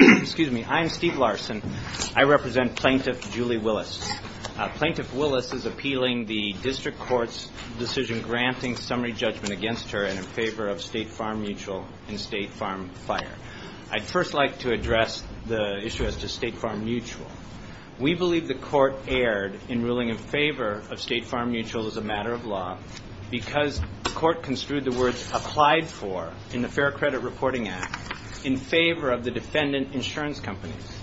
I am Steve Larson. I represent Plaintiff Julie Willis. Plaintiff Willis is appealing the District Court's decision granting summary judgment against her in favor of State Farm Mutual and State Farm Fire. I'd first like to address the issue as to State Farm Mutual. We believe the Court erred in ruling in favor of State Farm Mutual as a matter of law because the Court construed the words applied for in the Fair Credit Reporting Act in favor of the defendant insurance companies.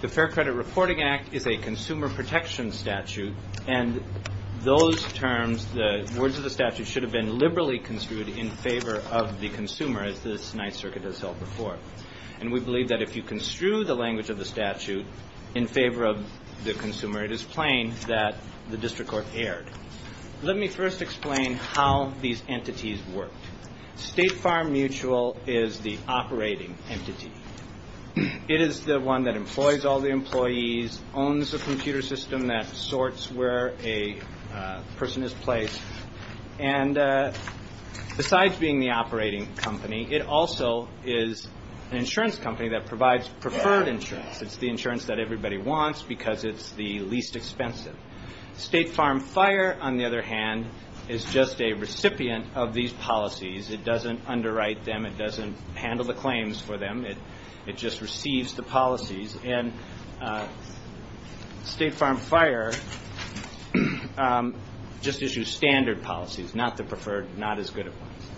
The Fair Credit Reporting Act is a consumer protection statute and those terms, the words of the statute, should have been liberally construed in favor of the consumer as the Ninth Circuit has held before. And we believe that if you construe the language of the statute in favor of the consumer, it is plain that the District Court erred. Let me first explain how these entities worked. State Farm Mutual is the operating entity. It is the one that employs all the employees, owns the computer system that sorts where a person is placed, and besides being the operating company, it also is an insurance company that provides preferred insurance. It's the insurance that everybody wants because it's the least expensive. State Farm Fire, on the other hand, is just a recipient of these policies. It doesn't underwrite them. It doesn't handle the claims for them. It just receives the policies. And State Farm Fire just issues standard policies, not the preferred, not as good ones.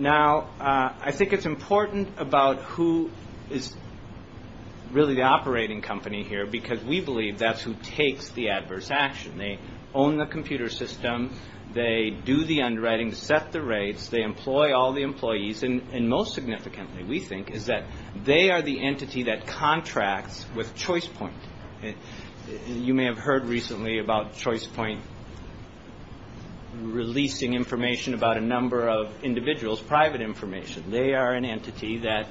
I think it's important about who is really the operating company here because we believe that's who takes the adverse action. They own the computer system. They do the underwriting, set the rates. They employ all the employees. And most significantly, we think, is that they are the entity that contracts with Choice Point. You may have heard recently about Choice Point releasing information about a number of individuals, private information. They are an entity that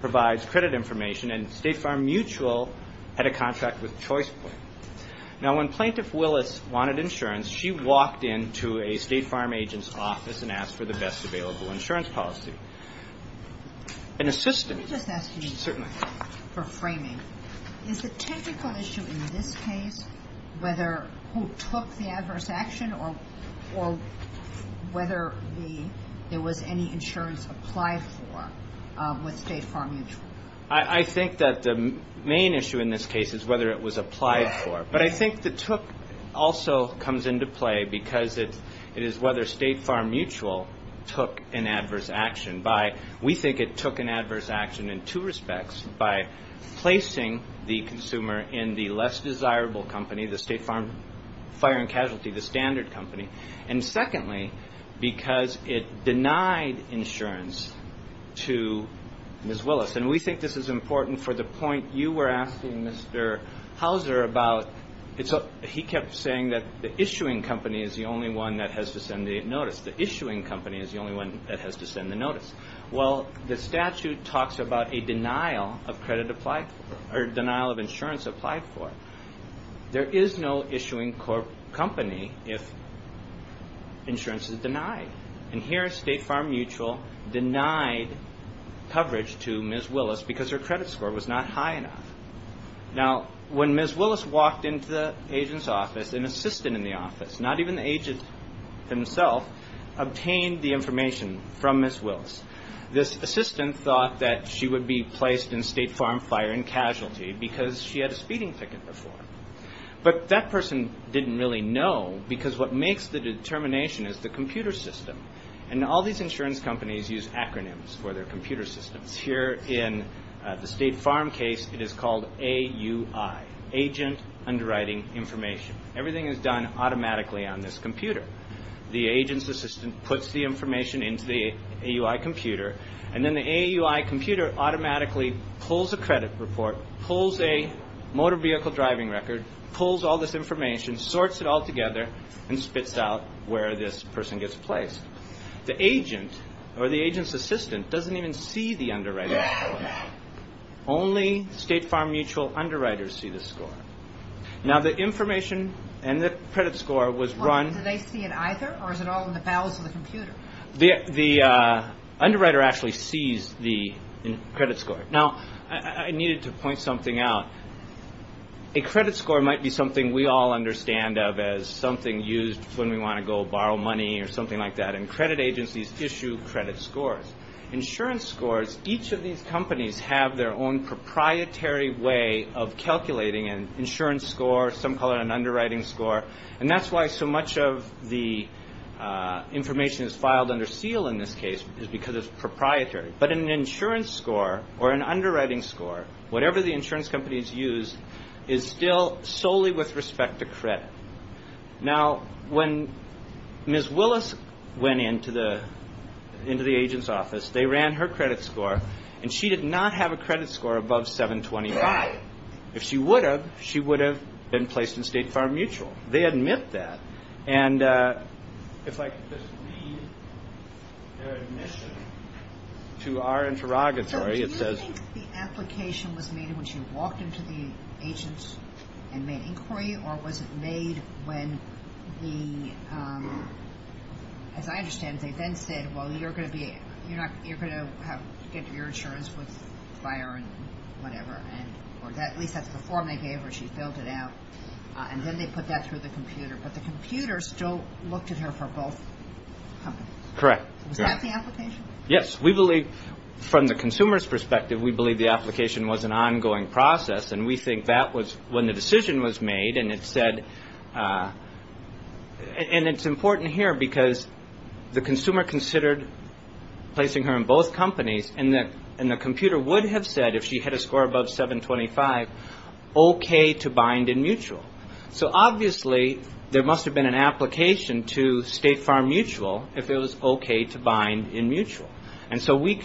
provides credit information, and State Farm Mutual had a contract with Choice Point. Now when Plaintiff Willis wanted insurance, she walked into a State Farm agent's office and asked for the best available insurance policy. An assistant certainly. Let me just ask you for framing. Is the technical issue in this case whether who took the adverse action or whether it was applied for with State Farm Mutual? I think that the main issue in this case is whether it was applied for. But I think the took also comes into play because it is whether State Farm Mutual took an adverse action. We think it took an adverse action in two respects. By placing the consumer in the less desirable company, the State Farm Fire and Casualty, the standard company. And secondly, because it denied insurance to Ms. Willis. And we think this is important for the point you were asking Mr. Houser about. He kept saying that the issuing company is the only one that has to send the notice. The issuing company is the only one that has to send the notice. Well, the statute talks about a denial of credit applied for, or denial of insurance applied for. There is no issuing company if insurance is denied. And here, State Farm Mutual denied coverage to Ms. Willis because her credit score was not high enough. When Ms. Willis walked into the agent's office, an assistant in the office, not even the agent himself, obtained the information from Ms. Willis. This assistant thought that she would be placed in State Farm Fire and Casualty because she had a speeding ticket before. But that person didn't really know because what makes the determination is the computer system. And all these insurance companies use acronyms for their computer systems. Here in the State Farm case, it is called AUI, Agent Underwriting Information. Everything is done automatically on this computer. The agent's assistant puts the information into the AUI computer, and then the AUI computer automatically pulls a credit report, pulls a motor vehicle driving record, pulls all this information, sorts it all together, and spits out where this person gets placed. The agent, or the agent's assistant, doesn't even see the underwriter's score. Only State Farm Mutual underwriters see the score. Now, the information and the credit score was run... Well, do they see it either, or is it all in the bowels of the computer? The underwriter actually sees the credit score. Now, I needed to point something out. A credit score might be something we all understand of as something used when we want to go borrow money or something like that, and credit agencies issue credit scores. Insurance scores, each of these companies have their own proprietary way of calculating an insurance score, some of the information is filed under seal in this case because it's proprietary, but an insurance score or an underwriting score, whatever the insurance company has used, is still solely with respect to credit. Now, when Ms. Willis went into the agent's office, they ran her credit score, and she did not have a credit score above 725. If she would have, she would have been placed in State Farm Mutual. They admit that, and if I could just read their admission to our interrogatory, it says... So do you think the application was made when she walked into the agent's and made inquiry, or was it made when the... As I understand, they then said, well, you're going to get your insurance with fire and whatever, or at least that's the form they gave her. She filled it out, and then they put that through the computer, but the computer still looked at her for both companies. Correct. Correct. Was that the application? Yes. We believe, from the consumer's perspective, we believe the application was an ongoing process, and we think that was when the decision was made, and it said... And it's important here because the consumer considered placing her in both companies, and the computer would have said, if she had a score above 725, okay to bind in mutual. So obviously, there must have been an application to State Farm Mutual if it was okay to bind in mutual. And so we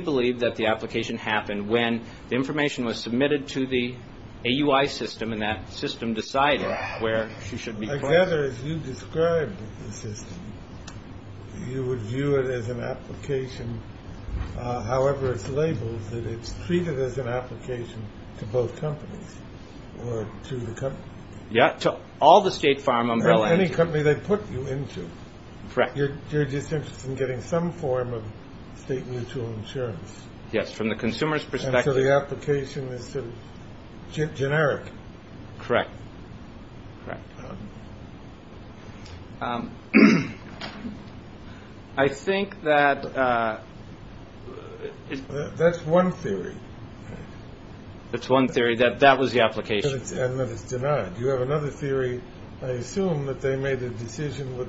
believe that the application happened when the information was submitted to the AUI system, and that when you described the system, you would view it as an application, however it's labeled, that it's treated as an application to both companies, or to the company. Yeah, to all the State Farm Umbrella... Any company they put you into. Correct. You're just interested in getting some form of State Mutual insurance. Yes, from the consumer's perspective. So the consumer... Correct. I think that... That's one theory. That's one theory, that that was the application. And that it's denied. You have another theory. I assume that they made a decision with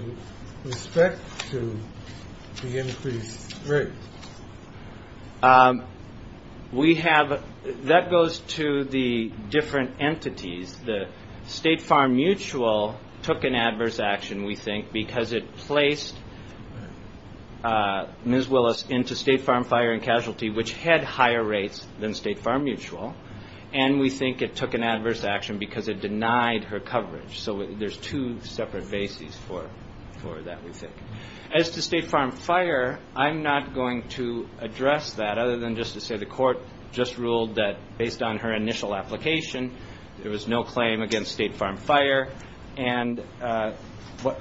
respect to the increased rate. We have... That goes to the different entities, the State Farm Mutual took an adverse action, we think, because it placed Ms. Willis into State Farm Fire and Casualty, which had higher rates than State Farm Mutual. And we think it took an adverse action because it denied her coverage. So there's two separate bases for that, we think. As to State Farm Fire, I'm not going to address that, other than just to say the court just ruled that, based on her initial application, there was no claim against State Farm Fire. And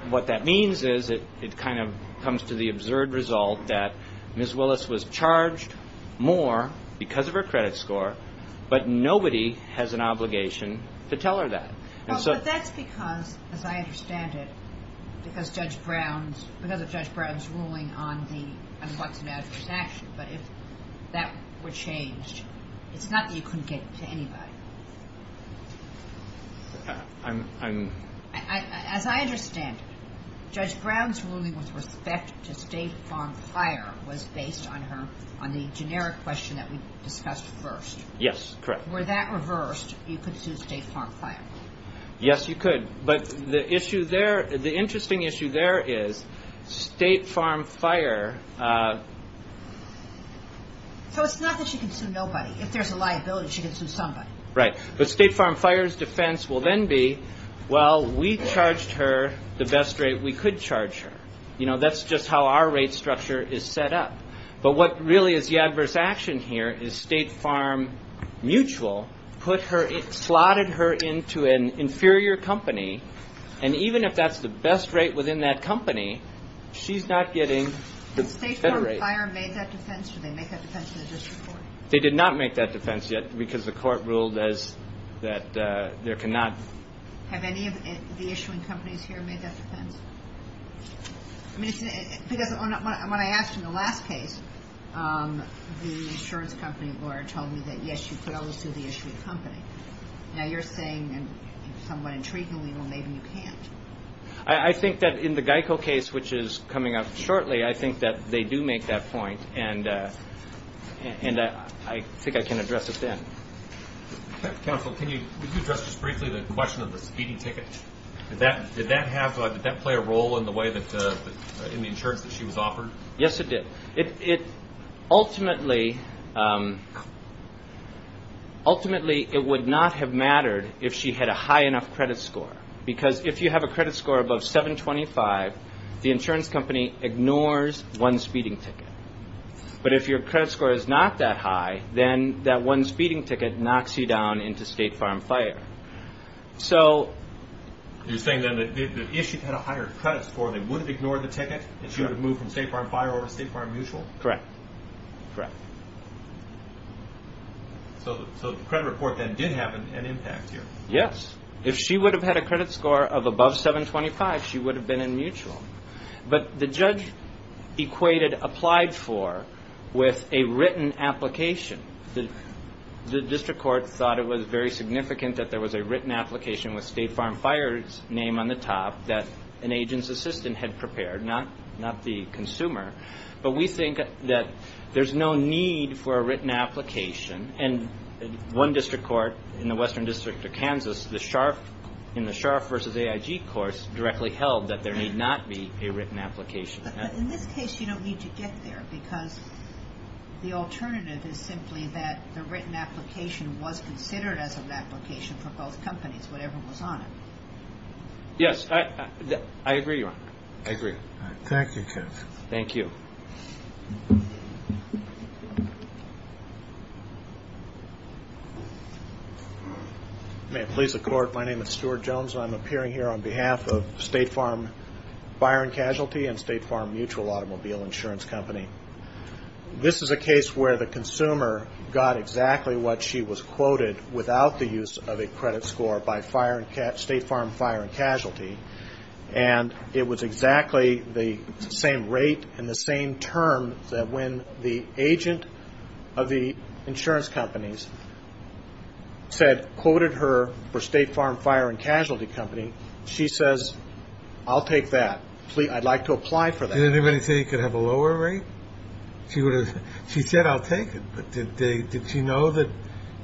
what that means is, it kind of comes to the absurd result that Ms. Willis was charged more because of her credit score, but nobody has an obligation to tell her that. Well, but that's because, as I understand it, because Judge Brown's... But if that were changed, it's not that you couldn't get it to anybody. I'm... As I understand it, Judge Brown's ruling with respect to State Farm Fire was based on her, on the generic question that we discussed first. Yes, correct. Were that reversed, you could sue State Farm Fire. Yes, you could. But the issue there, the interesting issue there is, State Farm Fire... So it's not that she can sue nobody. If there's a liability, she can sue somebody. Right. But State Farm Fire's defense will then be, well, we charged her the best rate we could charge her. You know, that's just how our rate structure is set up. But what really is the adverse action here is State Farm Mutual put her, slotted her into an inferior company, and even if that's the best rate within that company, she's not getting the better rate. Did State Farm Fire make that defense? Did they make that defense in the district court? They did not make that defense yet, because the court ruled as that there cannot... Have any of the issuing companies here made that defense? I mean, because when I asked in the last case, the insurance company lawyer told me that, yes, you could always sue the issuing company. Now, you're saying, somewhat intriguingly, well, maybe you can't. I think that in the GEICO case, which is coming up shortly, I think that they do make that point, and I think I can address it then. Counsel, can you... Could you address just briefly the question of the speeding ticket? Did that play a role in the way that, in the case of the speeding ticket, ultimately, it would not have mattered if she had a high enough credit score? Because if you have a credit score above 725, the insurance company ignores one speeding ticket. But if your credit score is not that high, then that one speeding ticket knocks you down into State Farm Fire. So... You're saying then that if she had a higher credit score, they would have ignored the ticket, and she would have moved from there? The credit report, then, did have an impact here. Yes. If she would have had a credit score of above 725, she would have been in mutual. But the judge equated applied for with a written application. The district court thought it was very significant that there was a written application with State Farm Fire's name on the top that an agent's assistant had prepared, not the consumer. But we think that there's no need for a written application. And one district court in the Western District of Kansas, in the Scharf v. AIG course, directly held that there need not be a written application. But in this case, you don't need to get there, because the alternative is simply that the written application was considered as an application for both companies, whatever was on it. Yes. I agree, Your Honor. I agree. Thank you, Judge. Thank you. May it please the Court, my name is Stuart Jones, and I'm appearing here on behalf of State Farm Fire and Casualty and State Farm Mutual Automobile Insurance Company. This is a case where the consumer got exactly what she was quoted without the use of a credit score by State Farm Fire and Casualty. And it was exactly the same rate and the same term that when the agent of the insurance companies quoted her for State Farm Fire and Casualty Company, she says, I'll take that. I'd like to apply for that. Did anybody say you could have a lower rate? She said, I'll take that. Does she know that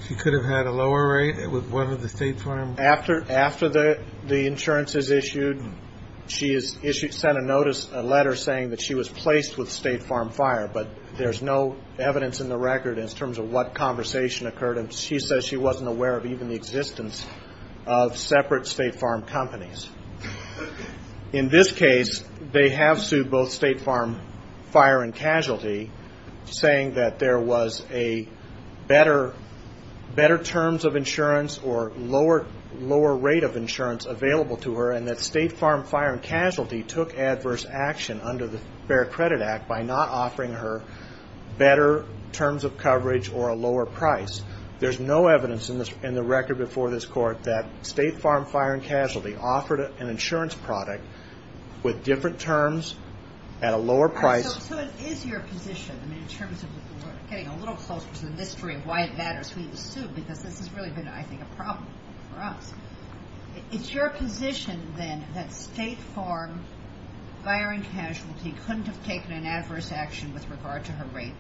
she could have had a lower rate with one of the State Farm? After the insurance is issued, she sent a notice, a letter saying that she was placed with State Farm Fire, but there's no evidence in the record in terms of what conversation occurred, and she says she wasn't aware of even the existence of separate State Farm companies. In this case, they have sued both State Farm Fire and Casualty, saying that there was a better terms of insurance or lower rate of insurance available to her, and that State Farm Fire and Casualty took adverse action under the Fair Credit Act by not offering her better terms of coverage or a lower price. There's no evidence in the record before this court that State Farm Fire and Casualty offered an insurance product with different terms at a lower price. So it is your position, in terms of getting a little closer to the mystery of why it matters for you to sue, because this has really been, I think, a problem for us. It's your position then that State Farm Fire and Casualty couldn't have taken an adverse action with regard to her rate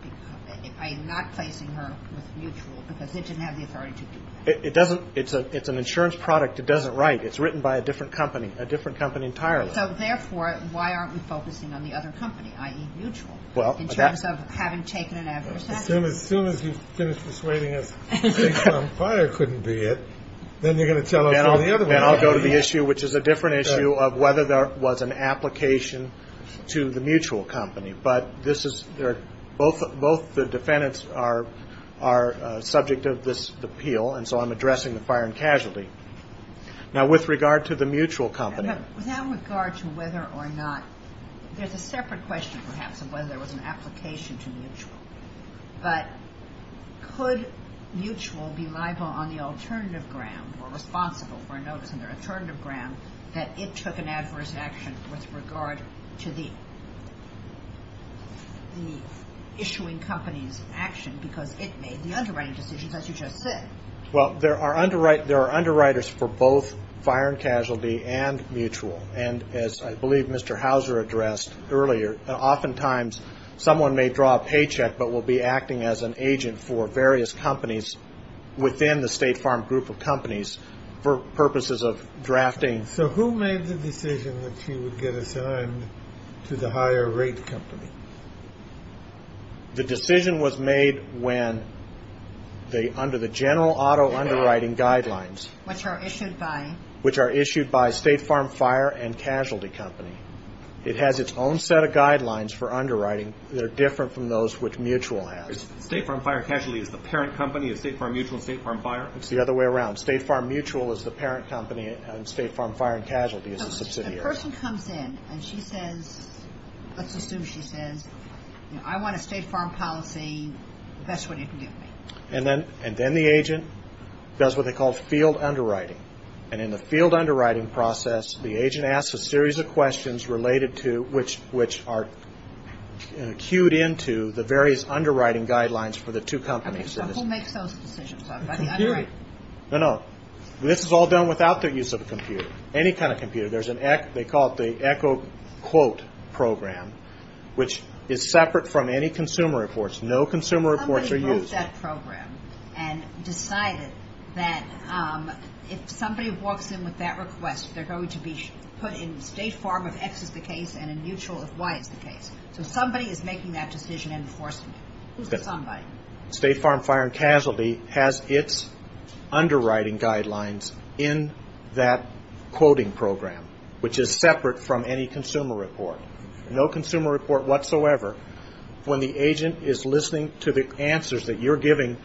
by not placing her with Mutual because they didn't have the authority to do that? It doesn't. It's an insurance product. It doesn't write. It's written by a different company, a different company entirely. So therefore, why aren't we focusing on the other company, i.e., Mutual, in terms of having taken an adverse action? Well, as soon as you finish persuading us State Farm Fire couldn't be it, then you're going to tell us all the other ones. Then I'll go to the issue, which is a different issue, of whether there was an application to the Mutual company. But this is, both the defendants are subject of this appeal, and so I'm addressing the Fire and Casualty. Now, with regard to the Mutual company Without regard to whether or not, there's a separate question, perhaps, of whether there was an application to Mutual. But could Mutual be liable on the alternative ground, or responsible for a notice on their alternative ground, that it took an adverse action with regard to the issuing company's action because it made the underwriting decisions, as you just said? Well, there are underwriters for both Fire and Casualty and Mutual. And as I believe Mr. Hauser addressed earlier, oftentimes someone may draw a paycheck but will be acting as an agent for various companies within the State Farm group of companies for purposes of drafting. So who made the decision that he would get assigned to the higher rate company? The decision was made when, under the general auto underwriting guidelines. Which are issued by? Which are issued by State Farm Fire and Casualty Company. It has its own set of guidelines for underwriting that are different from those which Mutual has. State Farm Fire and Casualty is the parent company of State Farm Mutual and State Farm Fire? It's the other way around. State Farm Mutual is the parent company, and State Farm Fire and Casualty is the subsidiary. So if a person comes in and she says, let's assume she says, I want a State Farm policy, that's what you can give me? And then the agent does what they call field underwriting. And in the field underwriting process, the agent asks a series of questions related to, which are cued into the various underwriting guidelines for the two companies. Who makes those decisions? The computer. No, no. This is all done without the use of a computer. Any kind of computer. They call it the Echo Quote program, which is separate from any consumer reports. No consumer reports are used. Somebody wrote that program and decided that if somebody walks in with that request, they're going to be put in State Farm if X is the case and in Mutual if Y is the case. So somebody is making that decision and enforcing it. Who's the somebody? State Farm Fire and Casualty has its underwriting guidelines in that quoting program, which is separate from any consumer report. No consumer report whatsoever. When the agent is listening to the answers that you're giving,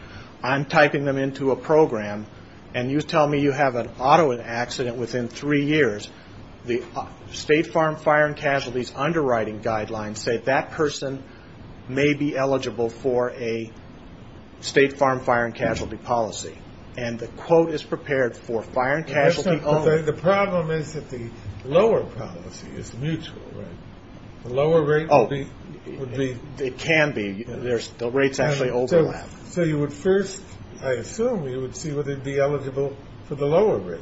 I'm typing them into a program, and you tell me you have an auto accident within three years, the State Farm Fire and Casualty's underwriting guidelines say that person may be eligible for a State Farm Fire and Casualty policy. And the quote is prepared for Fire and Casualty only. The problem is that the lower policy is Mutual, right? The lower rate would be? It can be. The rates actually overlap. So you would first, I assume, you would see whether they'd be eligible for the lower rate.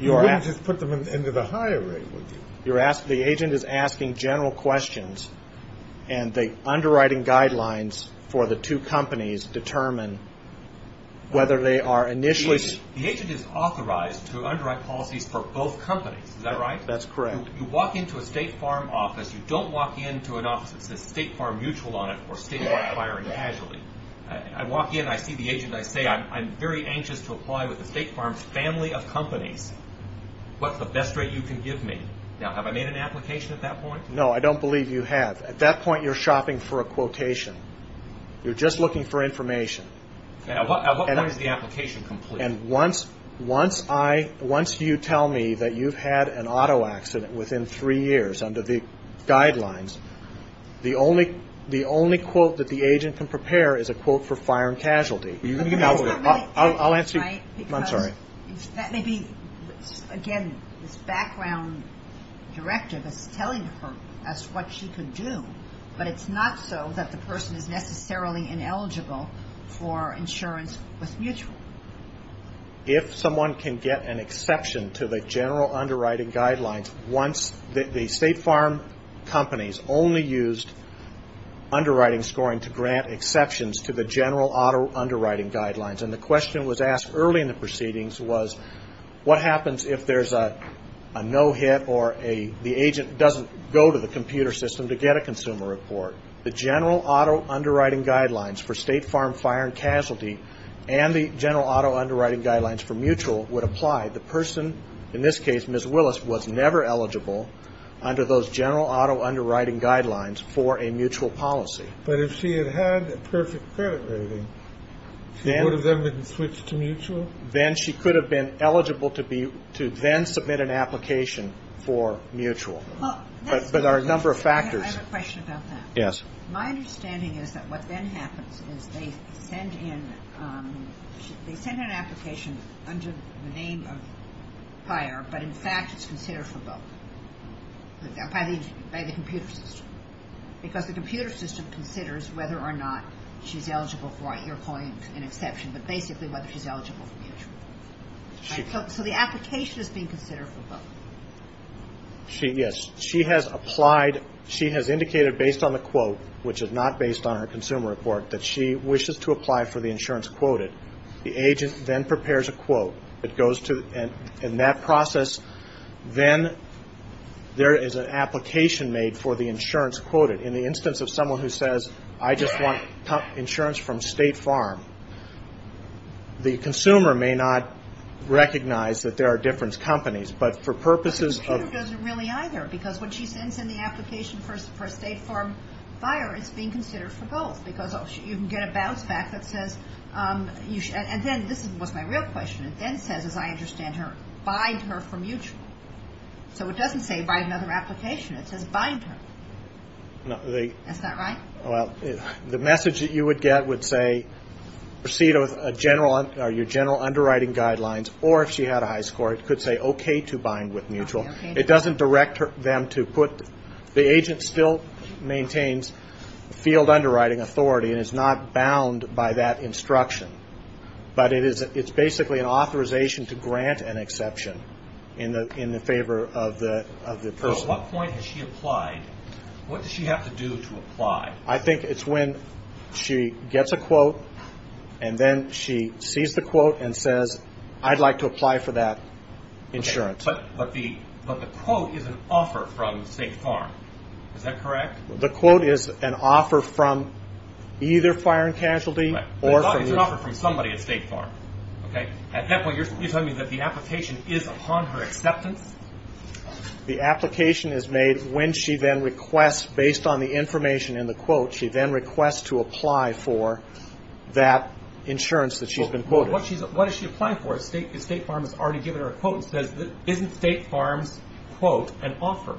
You wouldn't just put them into the higher rate, would you? The agent is asking general questions, and the underwriting guidelines for the two companies determine whether they are initially The agent is authorized to underwrite policies for both companies, is that right? That's correct. You walk into a State Farm office, you don't walk into an office that says State Farm Mutual on it or State Farm Fire and Casualty. I walk in, I see the agent, I say I'm very anxious to apply with the State Farm's family of companies. What's the best rate you can give me? Now, have I made an application at that point? No, I don't believe you have. At that point, you're shopping for a quotation. You're just looking for information. At what point is the application complete? And once you tell me that you've had an auto accident within three years under the guidelines, the only quote that the agent can prepare is a quote for fire and casualty. I'll answer you. That may be, again, this background directive is telling her as to what she can do, but it's not so that the person is necessarily ineligible for insurance with Mutual. If someone can get an exception to the general underwriting guidelines, once the State Farm companies only used underwriting scoring to grant exceptions to the general auto underwriting guidelines, and the question was asked early in the proceedings was, what happens if there's a no hit or the agent doesn't go to the computer system to get a consumer report? The general auto underwriting guidelines for State Farm fire and casualty and the general auto underwriting guidelines for Mutual would apply. The person, in this case, Ms. Willis, was never eligible under those general auto underwriting guidelines for a Mutual policy. But if she had had a perfect credit rating, she would have then been switched to Mutual? Then she could have been eligible to then submit an application for Mutual. But there are a number of factors. I have a question about that. Yes. My understanding is that what then happens is they send in an application under the name of fire, but in fact it's considered for both, by the computer system. Because the computer system considers whether or not she's eligible for, you're calling it an exception, but basically whether she's eligible for Mutual. So the application is being considered for both. Yes. She has applied, she has indicated based on the quote, which is not based on her consumer report, that she wishes to apply for the insurance quoted. The agent then prepares a quote. It goes to, in that process, then there is an application made for the insurance quoted. In the instance of someone who says, I just want insurance from State Farm, the consumer may not recognize that there are different companies, but for purposes of- The computer doesn't really either. Because when she sends in the application for a State Farm buyer, it's being considered for both. Because you can get a bounce back that says, and then, this was my real question, it then says, as I understand her, bind her for Mutual. So it doesn't say buy another application. It says bind her. Is that right? Well, the message that you would get would say proceed with your general underwriting guidelines, or if she had a high score, it could say okay to bind with Mutual. It doesn't direct them to put, the agent still maintains field underwriting authority and is not bound by that instruction. But it's basically an authorization to grant an exception in the favor of the person. So at what point has she applied? What does she have to do to apply? I think it's when she gets a quote, and then she sees the quote and says, I'd like to apply for that insurance. But the quote is an offer from State Farm. Is that correct? The quote is an offer from either Fire and Casualty or- I thought it was an offer from somebody at State Farm. At that point, you're telling me that the application is upon her acceptance? The application is made when she then requests, based on the information in the quote, she then requests to apply for that insurance that she's been quoted. What is she applying for? State Farm has already given her a quote and says, isn't State Farm's quote an offer?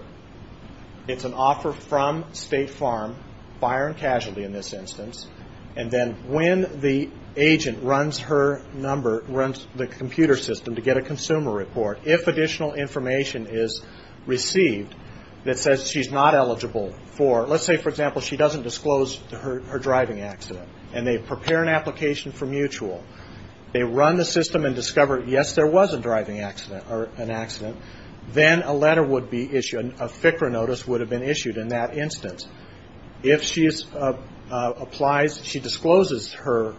It's an offer from State Farm, Fire and Casualty in this instance, and then when the agent runs her number, runs the computer system to get a consumer report, if additional information is received that says she's not eligible for- let's say, for example, she doesn't disclose her driving accident, and they prepare an application for mutual. They run the system and discover, yes, there was a driving accident or an accident. Then a letter would be issued, a FCRA notice would have been issued in that instance. If she applies, she discloses her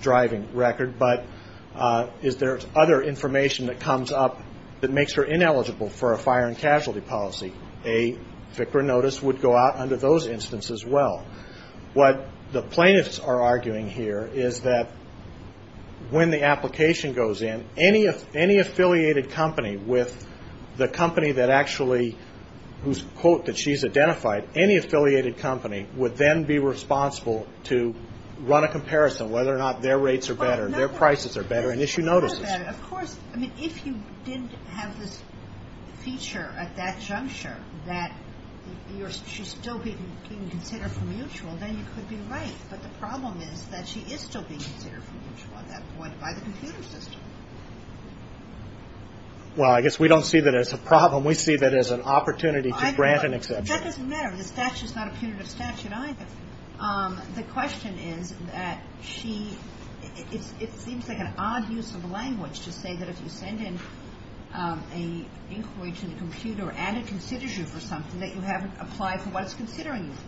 driving record, but is there other information that comes up that makes her ineligible for a fire and casualty policy? A FCRA notice would go out under those instances as well. What the plaintiffs are arguing here is that when the application goes in, any affiliated company with the company that actually, whose quote that she's identified, any affiliated company would then be responsible to run a comparison whether or not their rates are better, their prices are better, and issue notices. Of course. I mean, if you did have this feature at that juncture that she's still being considered for mutual, then you could be right, but the problem is that she is still being considered for mutual at that point by the computer system. Well, I guess we don't see that as a problem. We see that as an opportunity to grant an exception. That doesn't matter. The statute is not a punitive statute either. The question is that she, it seems like an odd use of language to say that if you send in an inquiry to the computer and it considers you for something that you haven't applied for what it's considering you for.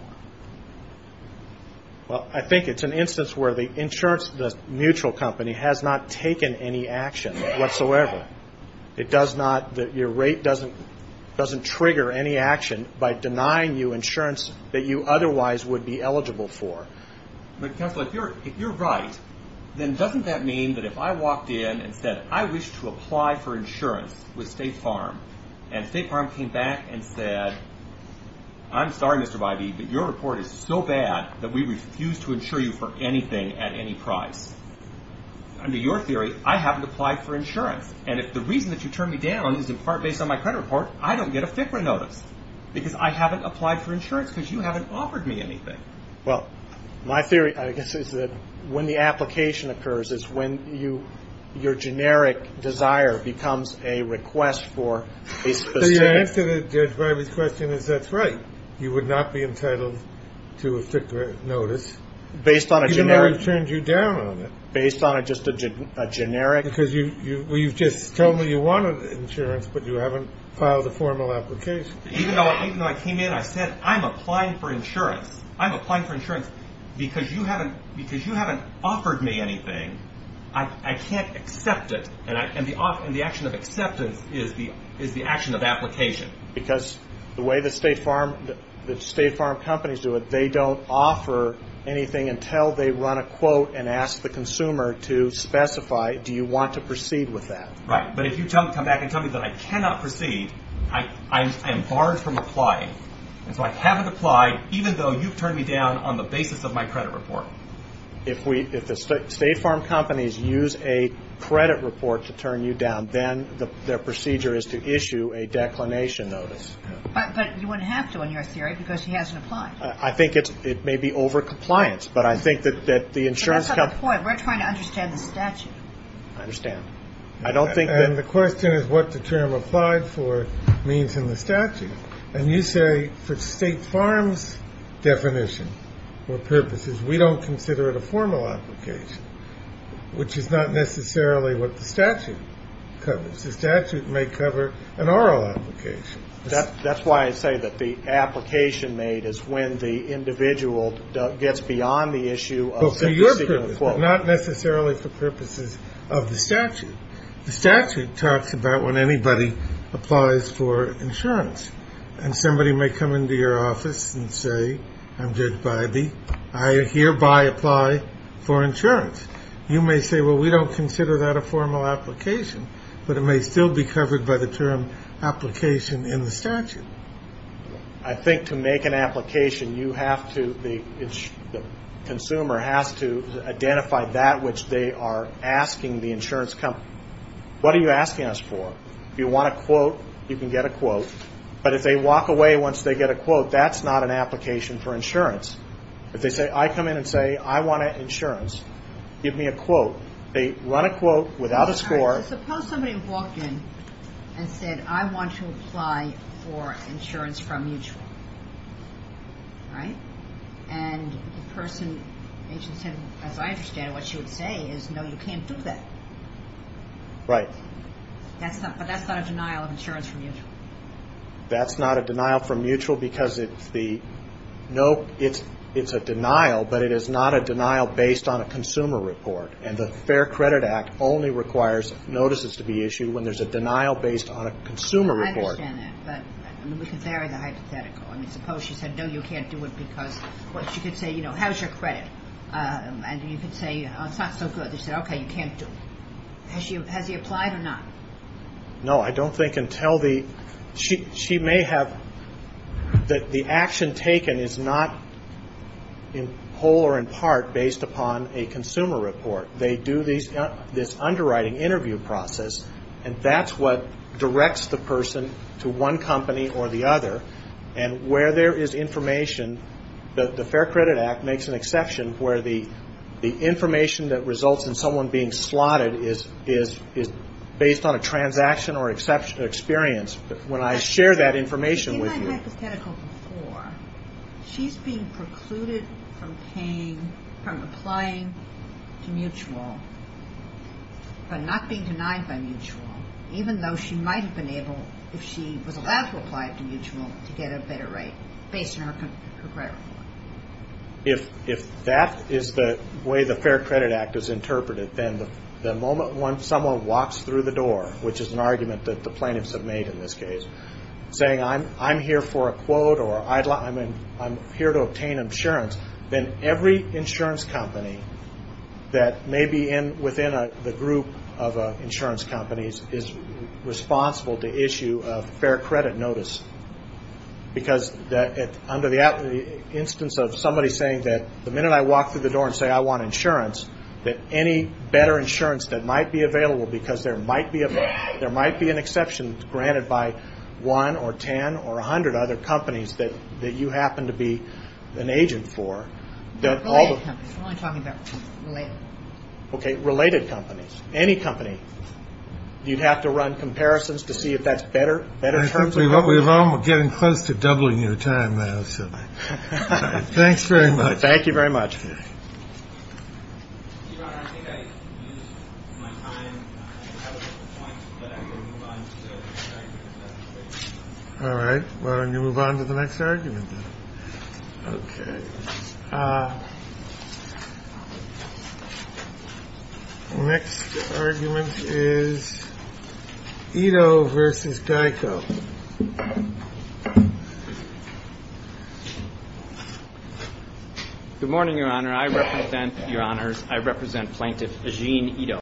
Well, I think it's an instance where the insurance, the mutual company, has not taken any action whatsoever. It does not, your rate doesn't trigger any action by denying you insurance that you otherwise would be eligible for. But counsel, if you're right, then doesn't that mean that if I walked in and said, I wish to apply for insurance with State Farm, and State Farm came back and said, I'm sorry, Mr. Bybee, but your report is so bad that we refuse to insure you for anything at any price. Under your theory, I haven't applied for insurance. And if the reason that you turned me down is in part based on my credit report, I don't get a FCRA notice because I haven't applied for insurance because you haven't offered me anything. Well, my theory, I guess, is that when the application occurs is when your generic desire becomes a request for a specific. My answer to Judge Bybee's question is that's right. You would not be entitled to a FCRA notice. Based on a generic. Even though I turned you down on it. Based on just a generic. Because you've just told me you wanted insurance, but you haven't filed a formal application. Even though I came in, I said, I'm applying for insurance. I'm applying for insurance because you haven't offered me anything. I can't accept it. And the action of acceptance is the action of application. Because the way the State Farm companies do it, they don't offer anything until they run a quote and ask the consumer to specify, do you want to proceed with that? Right. But if you come back and tell me that I cannot proceed, I am barred from applying. And so I haven't applied, even though you've turned me down on the basis of my credit report. If the State Farm companies use a credit report to turn you down, then their procedure is to issue a declination notice. But you wouldn't have to in your theory because he hasn't applied. I think it may be over compliance. But I think that the insurance company. But that's not the point. We're trying to understand the statute. I understand. I don't think that. And the question is what the term applied for means in the statute. And you say for State Farm's definition or purposes, we don't consider it a formal application, which is not necessarily what the statute covers. The statute may cover an oral application. That's why I say that the application made is when the individual gets beyond the issue of the particular quote. The statute talks about when anybody applies for insurance. And somebody may come into your office and say, I'm Judge Bybee, I hereby apply for insurance. You may say, well, we don't consider that a formal application. But it may still be covered by the term application in the statute. I think to make an application, you have to, the consumer has to identify that which they are asking the insurance company. What are you asking us for? If you want a quote, you can get a quote. But if they walk away once they get a quote, that's not an application for insurance. If they say, I come in and say I want insurance, give me a quote. They run a quote without a score. Suppose somebody walked in and said, I want to apply for insurance from Mutual. And the person, as I understand it, what you would say is, no, you can't do that. Right. But that's not a denial of insurance from Mutual. That's not a denial from Mutual because it's a denial, but it is not a denial based on a consumer report. And the Fair Credit Act only requires notices to be issued when there's a denial based on a consumer report. I understand that. But we can vary the hypothetical. I mean, suppose she said, no, you can't do it because, well, she could say, you know, how's your credit? And you could say, oh, it's not so good. They said, okay, you can't do it. Has she applied or not? No, I don't think until the ‑‑ she may have ‑‑ the action taken is not in whole or in part based upon a consumer report. They do this underwriting interview process, and that's what directs the person to one company or the other. And where there is information, the Fair Credit Act makes an exception where the information that results in someone being slotted is based on a transaction or experience. When I share that information with you ‑‑ In my hypothetical before, she's being precluded from paying, from applying to Mutual but not being denied by Mutual, even though she might have been able, if she was allowed to apply to Mutual, to get a better rate based on her credit report. If that is the way the Fair Credit Act is interpreted, then the moment someone walks through the door, which is an argument that the plaintiffs have made in this case, saying I'm here for a quote or I'm here to obtain insurance, then every insurance company that may be within the group of insurance companies is responsible to issue a fair credit notice. Because under the instance of somebody saying that the minute I walk through the door and say I want insurance, that any better insurance that might be available, because there might be an exception granted by 1 or 10 or 100 other companies that you happen to be an agent for, that all the ‑‑ Related companies. I'm only talking about related. Okay, related companies. Any company. You'd have to run comparisons to see if that's better. We're getting close to doubling your time now. Thanks very much. Thank you very much. Your Honor, I think I've used my time. I think I have a point, but I'm going to move on to the next argument. All right. Why don't you move on to the next argument then? Okay. The next argument is Ito v. Geico. Good morning, Your Honor. I represent, Your Honors, I represent Plaintiff Eugene Ito.